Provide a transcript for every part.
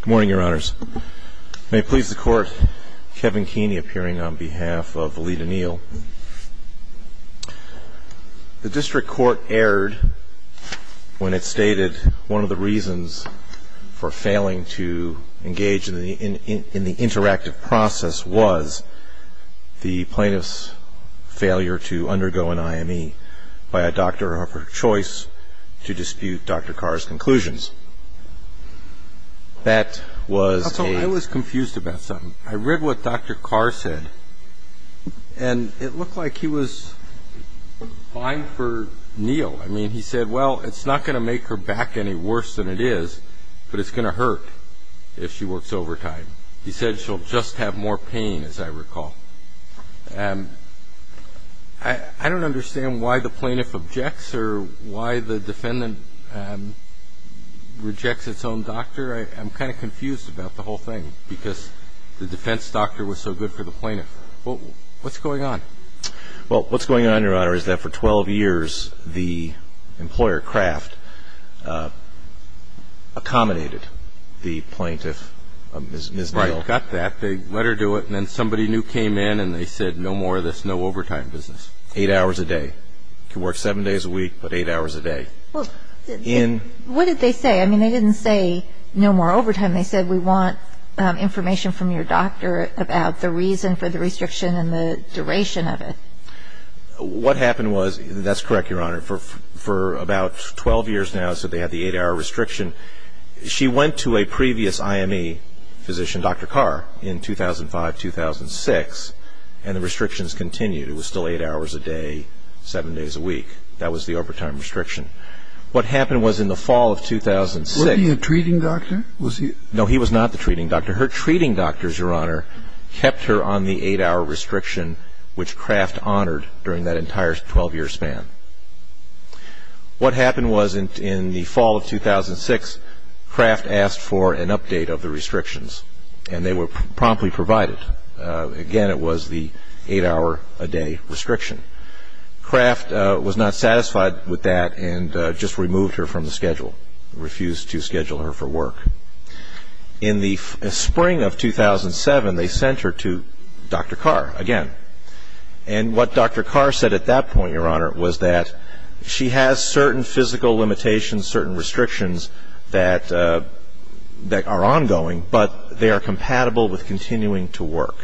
Good morning, Your Honors. May it please the Court, Kevin Keeney appearing on behalf of Valeda Neal. The District Court erred when it stated one of the reasons for failing to engage in the interactive process was the plaintiff's failure to undergo an IME by a doctor of her choice to dispute Dr. Karr's conclusions. That was a... I was confused about something. I read what Dr. Karr said, and it looked like he was fine for Neal. I mean, he said, well, it's not going to make her back any worse than it is, but it's going to hurt if she works overtime. He said she'll just have more pain, as I recall. I don't understand why the plaintiff objects or why the defendant rejects its own doctor. I'm kind of confused about the whole thing, because the defense doctor was so good for the plaintiff. What's going on? Well, what's going on, Your Honor, is that for 12 years, the employer, Kraft, accommodated the plaintiff, Ms. Neal. Right. Got that. They let her do it, and then somebody new came in, and they said, no more of this no-overtime business. Eight hours a day. She works seven days a week, but eight hours a day. Well, what did they say? I mean, they didn't say no more overtime. They said, we want information from your doctor about the reason for the restriction and the duration of it. What happened was, that's correct, Your Honor, for about 12 years now, so they had the eight-hour restriction. She went to a previous IME physician, Dr. Carr, in 2005, 2006, and the restrictions continued. It was still eight hours a day, seven days a week. That was the overtime restriction. What happened was, in the fall of 2006 Was he a treating doctor? No, he was not the treating doctor. Her treating doctors, Your Honor, kept her on the eight-hour restriction, which Kraft honored during that entire 12-year span. What happened was, in the fall of 2006, Kraft asked for an update of the restrictions, and they were promptly provided. Again, it was the eight-hour-a-day restriction. Kraft was not satisfied with that and just removed her from the schedule, refused to schedule her for work. In the spring of 2007, they sent her to Dr. Carr again. And what Dr. Carr said at that point, Your Honor, was that she has certain physical limitations, certain restrictions that are ongoing, but they are compatible with continuing to work.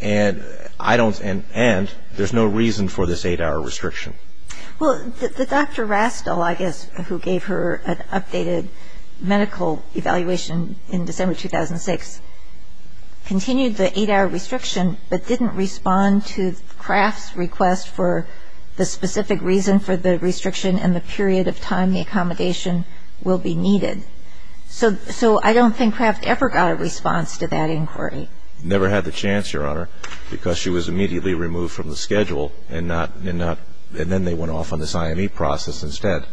And there's no reason for this eight-hour restriction. Well, Dr. Rastel, I guess, who gave her an updated medical evaluation in December 2006, continued the eight-hour restriction, and said, I don't think Kraft ever got a response to that inquiry. Never had the chance, Your Honor, because she was immediately removed from the schedule, and then they went off on this IME process instead.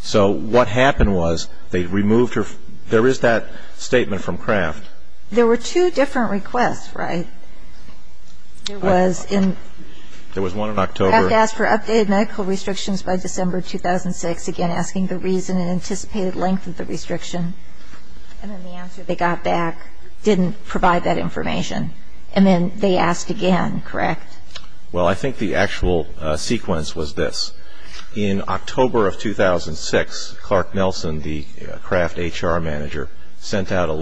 So what happened was, they removed her. There is that statement from Kraft. There were two different requests, right? There was one in October. Kraft asked for updated medical restrictions by December 2006, again asking the reason and anticipated length of the restriction. And then the answer they got back didn't provide that information. And then they asked again, correct? Well, I think the actual sequence was this. In October of 2006, Clark Nelson, the Kraft HR manager, sent out a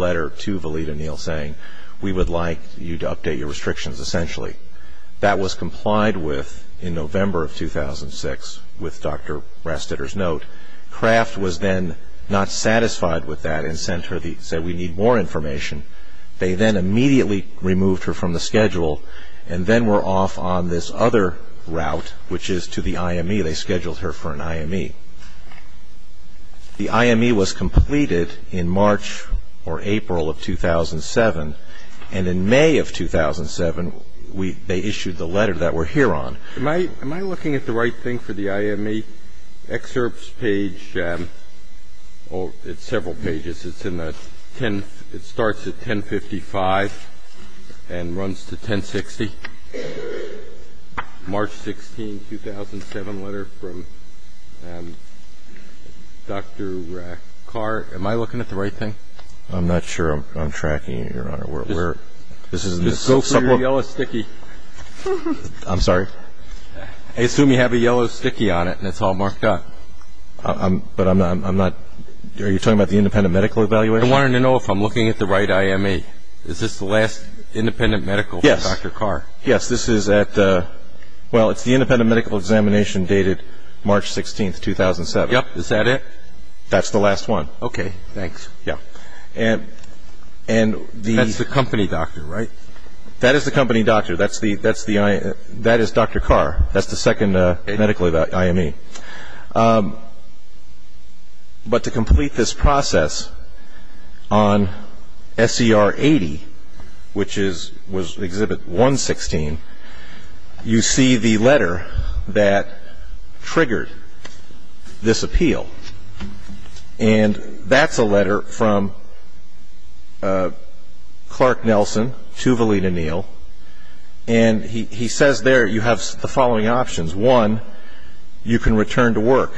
That was complied with in November of 2006 with Dr. Rastetter's note. Kraft was then not satisfied with that and said, we need more information. They then immediately removed her from the schedule and then were off on this other route, which is to the IME. They scheduled her for an IME. The IME was completed in March or April of 2007. And in May of 2007, they issued the letter that we're here on. Am I looking at the right thing for the IME? Excerpts page, oh, it's several pages. It's in the 10th. It starts at 1055 and runs to 1060. March 16, 2007 letter from Dr. Carr. Am I looking at the right thing? I'm not sure I'm tracking it, Your Honor. Just go for your yellow sticky. I'm sorry? I assume you have a yellow sticky on it and it's all marked up. But I'm not, are you talking about the independent medical evaluation? I wanted to know if I'm looking at the right IME. Is this the last independent medical from Dr. Carr? Yes, this is at, well, it's the independent medical examination dated March 16, 2007. Yep, is that it? That's the last one. Okay, thanks. Yeah. That's the company doctor, right? That is the company doctor. That is Dr. Carr. That's the second medical IME. But to complete this process on SCR 80, which is, was Exhibit 116, you see the letter that triggered this appeal. And that's a letter from Clark Nelson to Valina Neal, and he says there you have the following options. One, you can return to work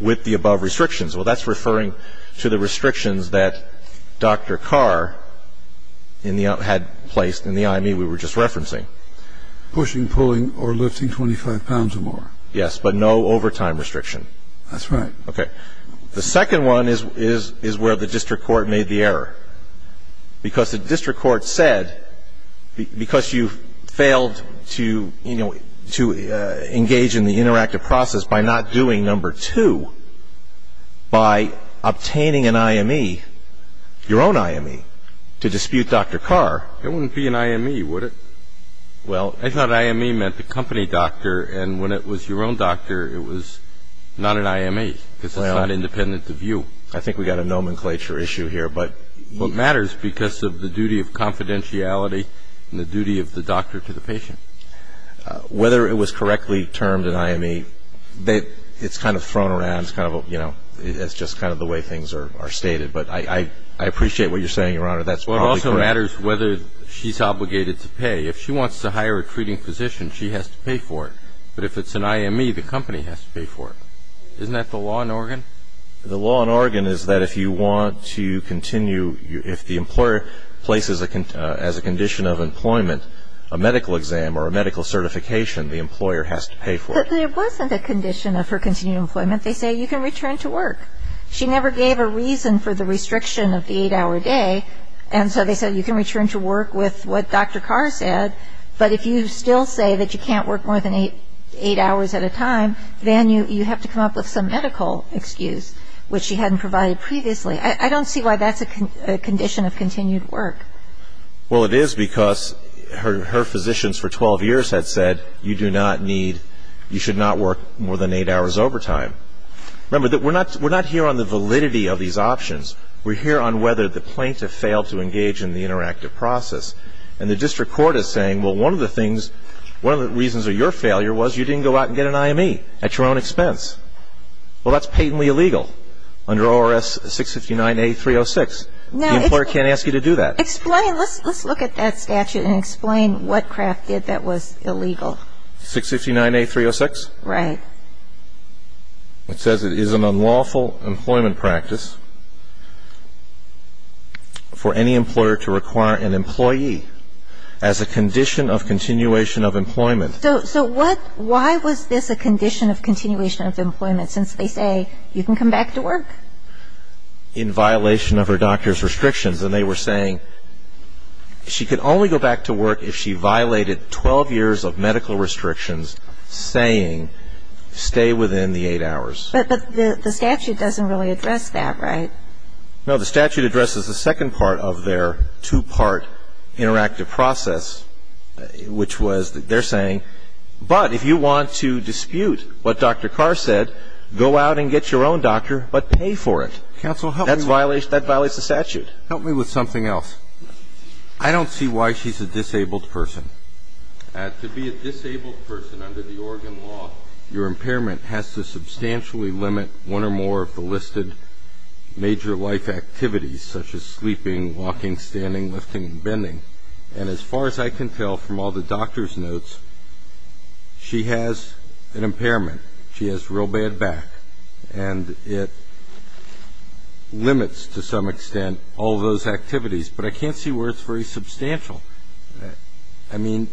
with the above restrictions. Well, that's referring to the restrictions that Dr. Carr had placed in the IME we were just referencing. Pushing, pulling, or lifting 25 pounds or more. Yes, but no overtime restriction. That's right. Okay. The second one is where the district court made the error. Because the district court said, because you failed to, you know, to engage in the interactive process by not doing number two, by obtaining an IME, your own IME, to dispute Dr. Carr. It wouldn't be an IME, would it? Well, I thought IME meant the company doctor. And when it was your own doctor, it was not an IME because it's not independent of you. I think we've got a nomenclature issue here. But it matters because of the duty of confidentiality and the duty of the doctor to the patient. Whether it was correctly termed an IME, it's kind of thrown around. It's kind of, you know, it's just kind of the way things are stated. But I appreciate what you're saying, Your Honor. That's probably correct. Well, it also matters whether she's obligated to pay. If she wants to hire a treating physician, she has to pay for it. But if it's an IME, the company has to pay for it. Isn't that the law in Oregon? The law in Oregon is that if you want to continue, if the employer places as a condition of employment, a medical exam or a medical certification, the employer has to pay for it. But there wasn't a condition of her continuing employment. They say you can return to work. She never gave a reason for the restriction of the eight-hour day. And so they said you can return to work with what Dr. Carr said. But if you still say that you can't work more than eight hours at a time, then you have to come up with some medical excuse, which she hadn't provided previously. I don't see why that's a condition of continued work. Well, it is because her physicians for 12 years had said you do not need, you should not work more than eight hours overtime. Remember, we're not here on the validity of these options. We're here on whether the plaintiff failed to engage in the interactive process. And the district court is saying, well, one of the things, one of the reasons of your failure was you didn't go out and get an IME at your own expense. Well, that's patently illegal under ORS 659A-306. The employer can't ask you to do that. Explain. Let's look at that statute and explain what Kraft did that was illegal. 659A-306? Right. It says it is an unlawful employment practice for any employer to require an employee as a condition of continuation of employment. So what, why was this a condition of continuation of employment since they say you can come back to work? In violation of her doctor's restrictions. And they were saying she could only go back to work if she violated 12 years of medical restrictions, saying stay within the eight hours. But the statute doesn't really address that, right? No, the statute addresses the second part of their two-part interactive process, which was they're saying, but if you want to dispute what Dr. Carr said, go out and get your own doctor, but pay for it. Counsel, help me with that. That violates the statute. Help me with something else. I don't see why she's a disabled person. To be a disabled person under the Oregon law, your impairment has to substantially limit one or more of the listed major life activities, such as sleeping, walking, standing, lifting, and bending. And as far as I can tell from all the doctor's notes, she has an impairment. She has real bad back. And it limits, to some extent, all those activities. But I can't see where it's very substantial. I mean,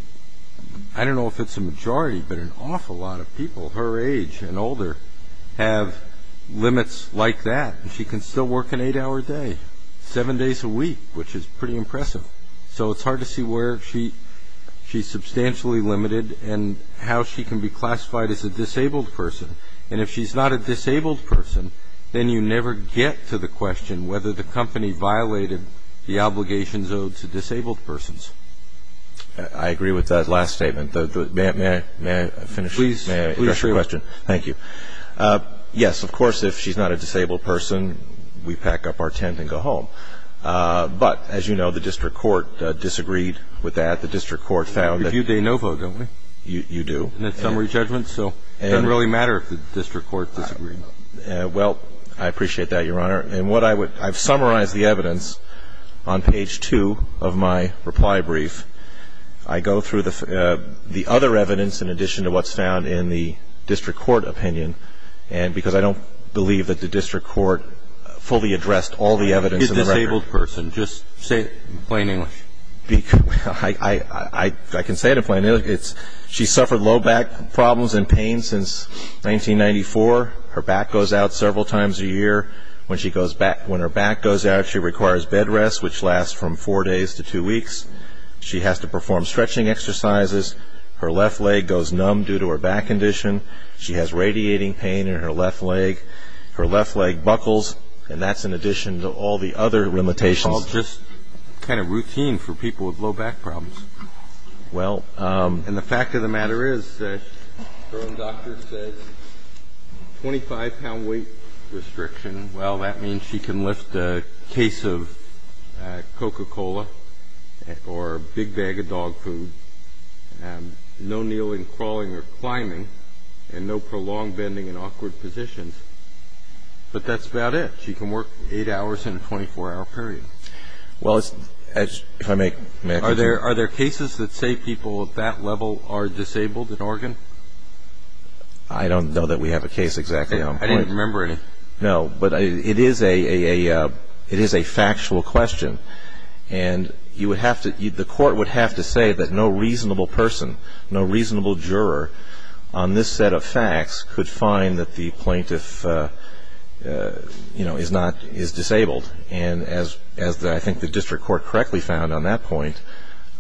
I don't know if it's a majority, but an awful lot of people her age and older have limits like that, and she can still work an eight-hour day, seven days a week, which is pretty impressive. So it's hard to see where she's substantially limited and how she can be classified as a disabled person. And if she's not a disabled person, then you never get to the question whether the company violated the obligations owed to disabled persons. I agree with that last statement. May I finish? Please. May I address your question? Thank you. Yes, of course, if she's not a disabled person, we pack up our tent and go home. But, as you know, the district court disagreed with that. The district court found that. We give you a no vote, don't we? You do. And it's summary judgment, so it doesn't really matter if the district court disagrees. Well, I appreciate that, Your Honor. And I've summarized the evidence on page two of my reply brief. I go through the other evidence in addition to what's found in the district court opinion, because I don't believe that the district court fully addressed all the evidence in the record. She's a disabled person. Just say it in plain English. I can say it in plain English. She's suffered low back problems and pain since 1994. Her back goes out several times a year. When her back goes out, she requires bed rest, which lasts from four days to two weeks. She has to perform stretching exercises. Her left leg goes numb due to her back condition. She has radiating pain in her left leg. Her left leg buckles, and that's in addition to all the other limitations. It's all just kind of routine for people with low back problems. And the fact of the matter is, her own doctor said, 25-pound weight restriction, well, that means she can lift a case of Coca-Cola or a big bag of dog food, no kneeling, crawling or climbing, and no prolonged bending in awkward positions. But that's about it. She can work eight hours in a 24-hour period. Well, if I may continue. Are there cases that say people at that level are disabled in Oregon? I don't know that we have a case exactly on point. I didn't remember any. No, but it is a factual question. And the court would have to say that no reasonable person, no reasonable juror on this set of facts could find that the plaintiff is disabled. And as I think the district court correctly found on that point,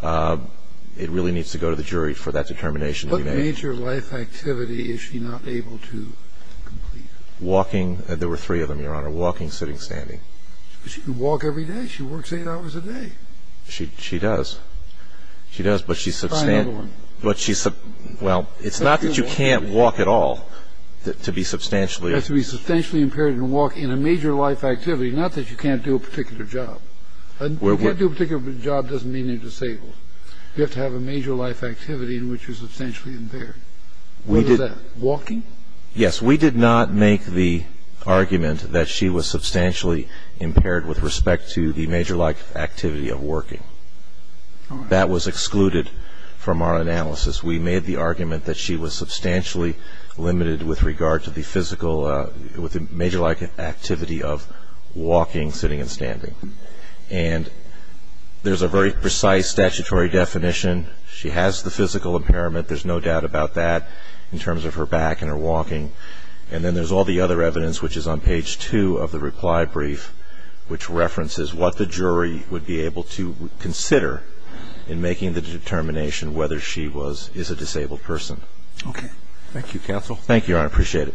it really needs to go to the jury for that determination. What major life activity is she not able to complete? Walking. There were three of them, Your Honor. Walking, sitting, standing. But she can walk every day. She works eight hours a day. She does. She does, but she's substantial. Try another one. Well, it's not that you can't walk at all to be substantially. You have to be substantially impaired and walk in a major life activity, not that you can't do a particular job. If you can't do a particular job, it doesn't mean you're disabled. You have to have a major life activity in which you're substantially impaired. What is that? Walking? Yes. We did not make the argument that she was substantially impaired with respect to the major life activity of working. That was excluded from our analysis. We made the argument that she was substantially limited with regard to the physical with the major life activity of walking, sitting, and standing. And there's a very precise statutory definition. She has the physical impairment. There's no doubt about that in terms of her back and her walking. And then there's all the other evidence, which is on page two of the reply brief, which references what the jury would be able to consider in making the determination whether she is a disabled person. Okay. Thank you, counsel. Thank you, Your Honor. I appreciate it.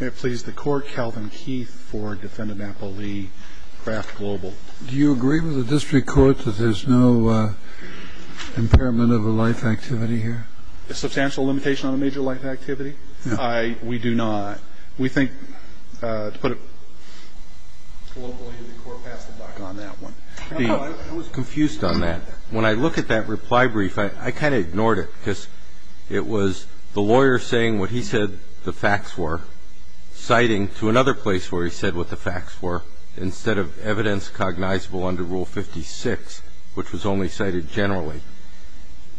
May it please the Court, Calvin Keith for Defendant Apple Lee, Kraft Global. Do you agree with the district court that there's no impairment of a life activity here? A substantial limitation on a major life activity? No. We do not. We think to put it locally, the court passed the buck on that one. I was confused on that. When I look at that reply brief, I kind of ignored it, because it was the lawyer saying what he said the facts were, citing to another place where he said what the facts were, instead of evidence cognizable under Rule 56, which was only cited generally.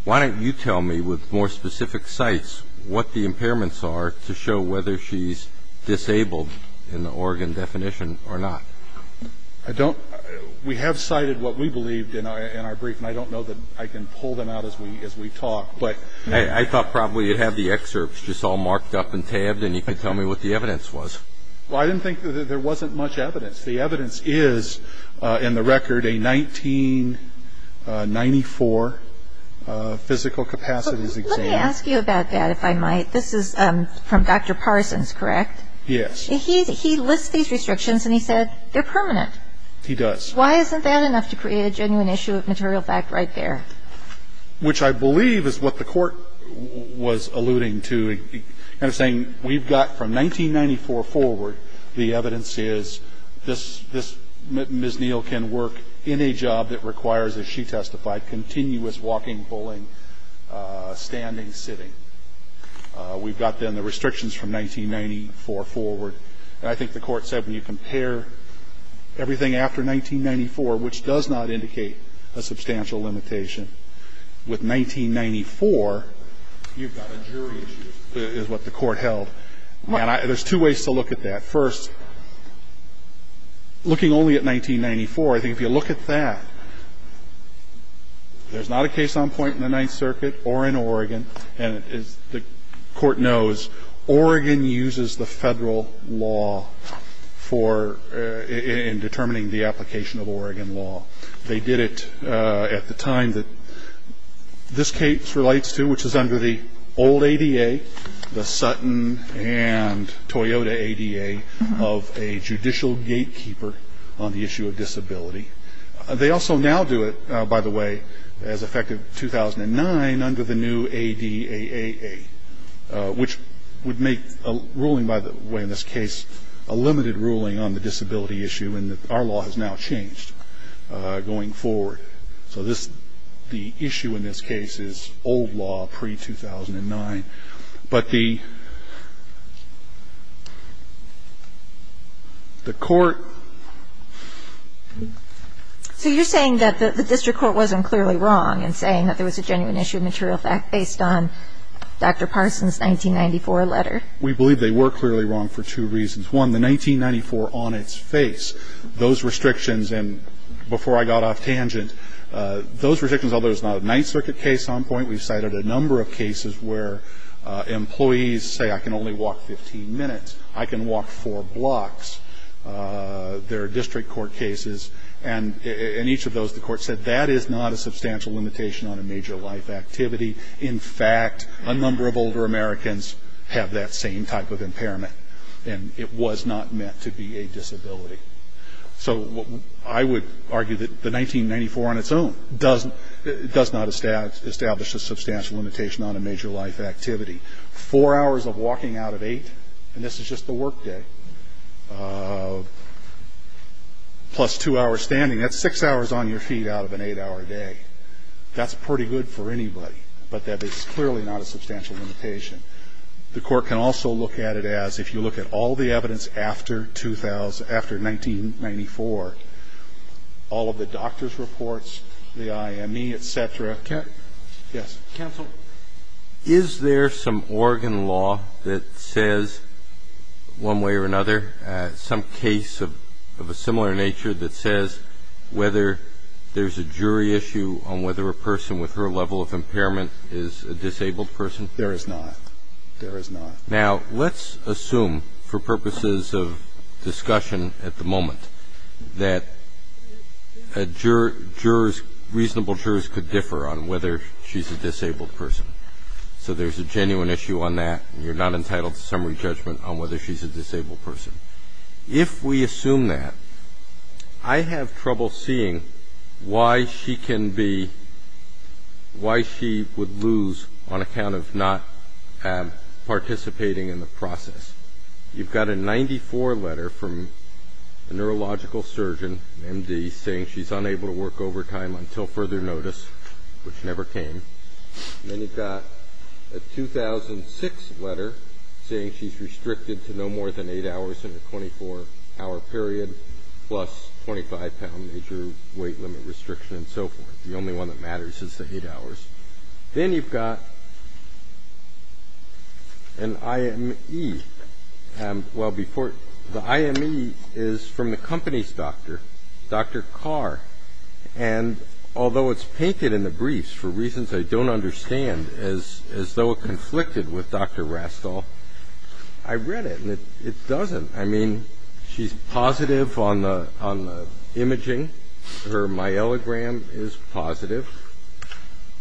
Why don't you tell me with more specific cites what the impairments are to show whether she's disabled in the Oregon definition or not? I don't we have cited what we believed in our brief, and I don't know that I can pull them out as we talk. But I thought probably you'd have the excerpts just all marked up and tabbed, and you could tell me what the evidence was. Well, I didn't think that there wasn't much evidence. The evidence is, in the record, a 1994 physical capacities exam. Let me ask you about that, if I might. This is from Dr. Parsons, correct? Yes. He lists these restrictions, and he said they're permanent. He does. Why isn't that enough to create a genuine issue of material fact right there? Which I believe is what the court was alluding to, kind of saying we've got from 1994 forward, the evidence is this Ms. Neal can work in a job that requires, as she testified, continuous walking, pulling, standing, sitting. We've got then the restrictions from 1994 forward. And I think the Court said when you compare everything after 1994, which does not indicate a substantial limitation, with 1994, you've got a jury issue. I think that's what the Court held. And there's two ways to look at that. First, looking only at 1994, I think if you look at that, there's not a case on point in the Ninth Circuit or in Oregon. And as the Court knows, Oregon uses the Federal law for – in determining the application of Oregon law. They did it at the time that this case relates to, which is under the old ADA, the Sutton and Toyota ADA of a judicial gatekeeper on the issue of disability. They also now do it, by the way, as effective 2009 under the new ADAAA, which would make a ruling by the way in this case a limited ruling on the disability issue, and our law has now changed. So the court has changed the rule in this case. And so we're going to have to look at those restrictions going forward. So this – the issue in this case is old law, pre-2009. But the Court – So you're saying that the district court wasn't clearly wrong in saying that there was a genuine issue of material fact based on Dr. Parson's 1994 letter? We believe they were clearly wrong for two reasons. One, the 1994 on its face, those restrictions – and before I got off tangent, those restrictions, although it's not a Ninth Circuit case on point, we've cited a number of cases where employees say I can only walk 15 minutes, I can walk four blocks. There are district court cases, and in each of those the court said that is not a substantial limitation on a major life activity. In fact, a number of older Americans have that same type of impairment, and it was not meant to be a disability. So I would argue that the 1994 on its own does not establish a substantial limitation on a major life activity. Four hours of walking out of eight, and this is just the work day, plus two hours standing. That's six hours on your feet out of an eight-hour day. That's pretty good for anybody, but that is clearly not a substantial limitation. The Court can also look at it as if you look at all the evidence after 2000 – after 1994, all of the doctor's reports, the IME, et cetera. Yes. Counsel, is there some Oregon law that says one way or another, some case of a similar nature that says whether there's a jury issue on whether a person with her level of impairment is a disabled person? There is not. There is not. Now, let's assume for purposes of discussion at the moment that jurors, reasonable So there's a genuine issue on that, and you're not entitled to summary judgment on whether she's a disabled person. If we assume that, I have trouble seeing why she can be – why she would lose on account of not participating in the process. You've got a 94 letter from a neurological surgeon, MD, saying she's unable to work overtime until further notice, which never came. And then you've got a 2006 letter saying she's restricted to no more than eight hours in her 24-hour period, plus 25-pound major weight limit restriction and so forth. The only one that matters is the eight hours. Then you've got an IME. Well, before – the IME is from the company's doctor, Dr. Carr. And although it's painted in the briefs, for reasons I don't understand, as though it conflicted with Dr. Rastall, I read it, and it doesn't. I mean, she's positive on the imaging. Her myelogram is positive.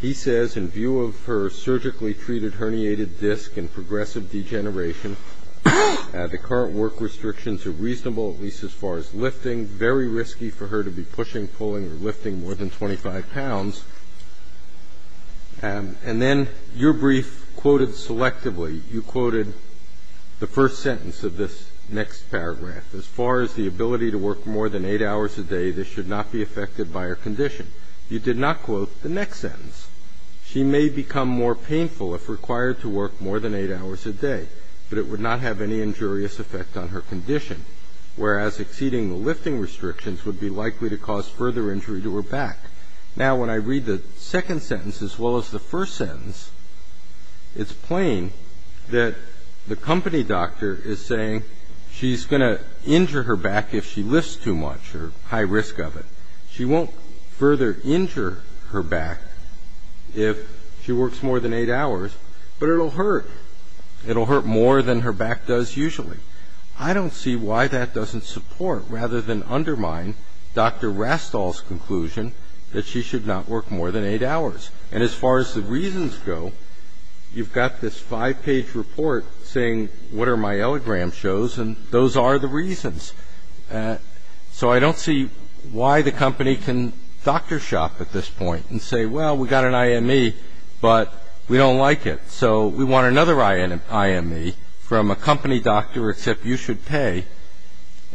He says, in view of her surgically treated herniated disc and progressive degeneration, the current work restrictions are reasonable, at least as far as lifting. Very risky for her to be pushing, pulling, or lifting more than 25 pounds. And then your brief quoted selectively. You quoted the first sentence of this next paragraph. As far as the ability to work more than eight hours a day, this should not be affected by her condition. You did not quote the next sentence. She may become more painful if required to work more than eight hours a day, but it would not have any injurious effect on her condition, whereas exceeding the lifting restrictions would be likely to cause further injury to her back. Now, when I read the second sentence as well as the first sentence, it's plain that the company doctor is saying she's going to injure her back if she lifts too much or high risk of it. She won't further injure her back if she works more than eight hours, but it will hurt. It will hurt more than her back does usually. I don't see why that doesn't support rather than undermine Dr. Rastall's conclusion that she should not work more than eight hours. And as far as the reasons go, you've got this five-page report saying what are myelogram shows, and those are the reasons. So I don't see why the company can doctor shop at this point and say, well, we've got an IME, but we don't like it, so we want another IME from a company doctor except you should pay,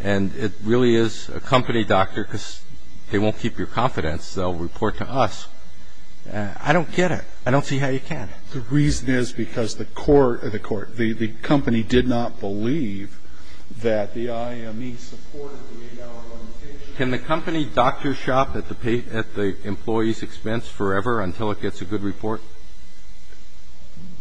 and it really is a company doctor because they won't keep your confidence. They'll report to us. I don't get it. I don't see how you can. The reason is because the court, the company did not believe that the IME supported the eight-hour limitation. Can the company doctor shop at the employee's expense forever until it gets a good report?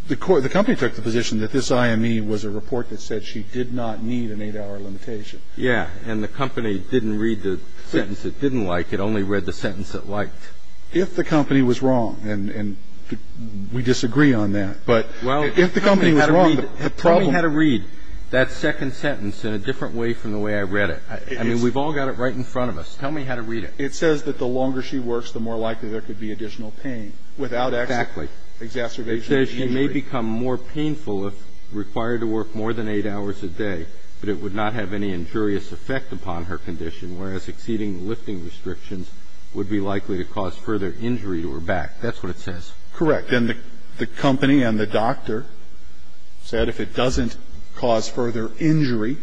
The company took the position that this IME was a report that said she did not need an eight-hour limitation. Yeah, and the company didn't read the sentence it didn't like. It only read the sentence it liked. If the company was wrong, and we disagree on that, but if the company was wrong, the problem was. Well, tell me how to read that second sentence in a different way from the way I read it. I mean, we've all got it right in front of us. Tell me how to read it. It says that the longer she works, the more likely there could be additional pain without exacerbation of injury. Exactly. It says she may become more painful if required to work more than eight hours a day, but it would not have any injurious effect upon her condition, whereas exceeding lifting restrictions would be likely to cause further injury to her back. That's what it says. Correct. And the company and the doctor said if it doesn't cause further injury,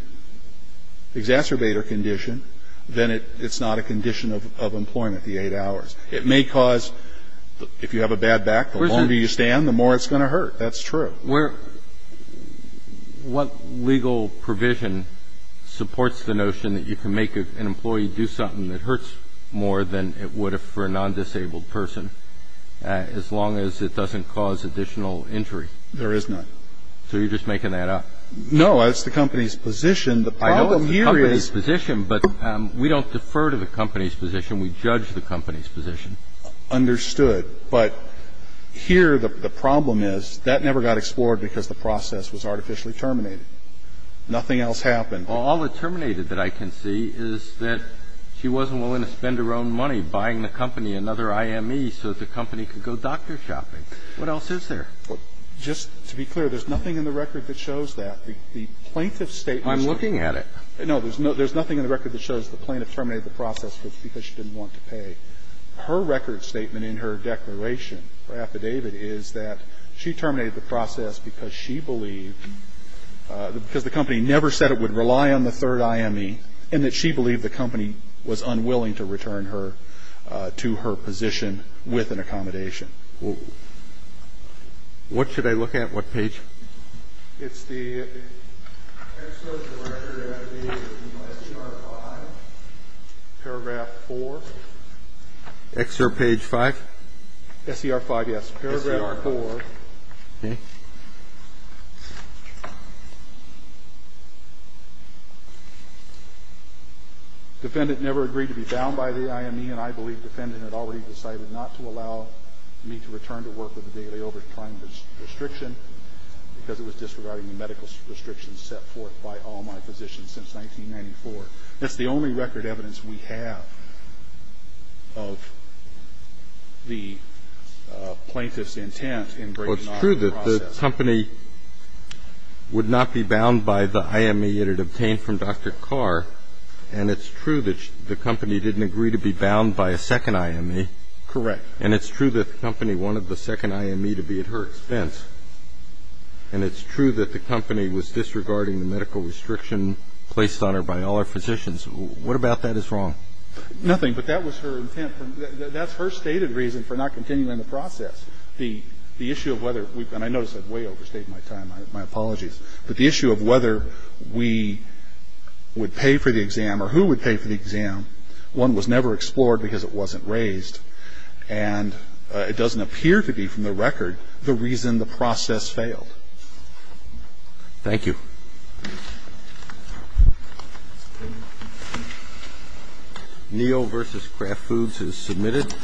exacerbate her condition, then it's not a condition of employment, the eight hours. It may cause, if you have a bad back, the longer you stand, the more it's going to hurt. That's true. What legal provision supports the notion that you can make an employee do something that hurts more than it would for a nondisabled person as long as it doesn't cause additional injury? There is none. So you're just making that up? No. It's the company's position. The problem here is the company's position, but we don't defer to the company's position. We judge the company's position. The other thing that I showed, and this is based on the fact that I did the work on the plaintiff, I think, understood, but here the problem is that never got explored because the process was artificially terminated. Nothing else happened. All it terminated that I can see is that she wasn't willing to spend her own money buying the company another IME so that the company could go doctor shopping. What else is there? Well, just to be clear, there's nothing in the record that shows that. The plaintiff's statement... I'm looking at it. No, there's nothing in the record that shows the plaintiff terminated the process because she didn't want to pay. Her record statement in her declaration, her affidavit, is that she terminated the process because she believed, because the company never said it would rely on the third IME, and that she believed the company was unwilling to return her to her position with an accommodation. What should I look at? What page? It's the... Excerpt of the record, I believe, is in S.E.R. 5. Paragraph 4. Excerpt page 5? S.E.R. 5, yes. Paragraph 4. S.E.R. Okay. Defendant never agreed to be bound by the IME, and I believe defendant had already decided not to allow me to return to work with a daily overtime restriction because it was disregarding the medical restrictions set forth by all my physicians since 1994. That's the only record evidence we have of the plaintiff's intent in breaking off the process. Well, it's true that the company would not be bound by the IME it had obtained from Dr. Carr, and it's true that the company didn't agree to be bound by a second IME. Correct. And it's true that the company wanted the second IME to be at her expense. And it's true that the company was disregarding the medical restriction placed on her by all our physicians. What about that is wrong? Nothing, but that was her intent. That's her stated reason for not continuing the process. The issue of whether we've been – I notice I've way overstayed my time. My apologies. But the issue of whether we would pay for the exam or who would pay for the exam, one was never explored because it wasn't raised. And it doesn't appear to be from the record the reason the process failed. Thank you. Neal v. Kraft Foods is submitted.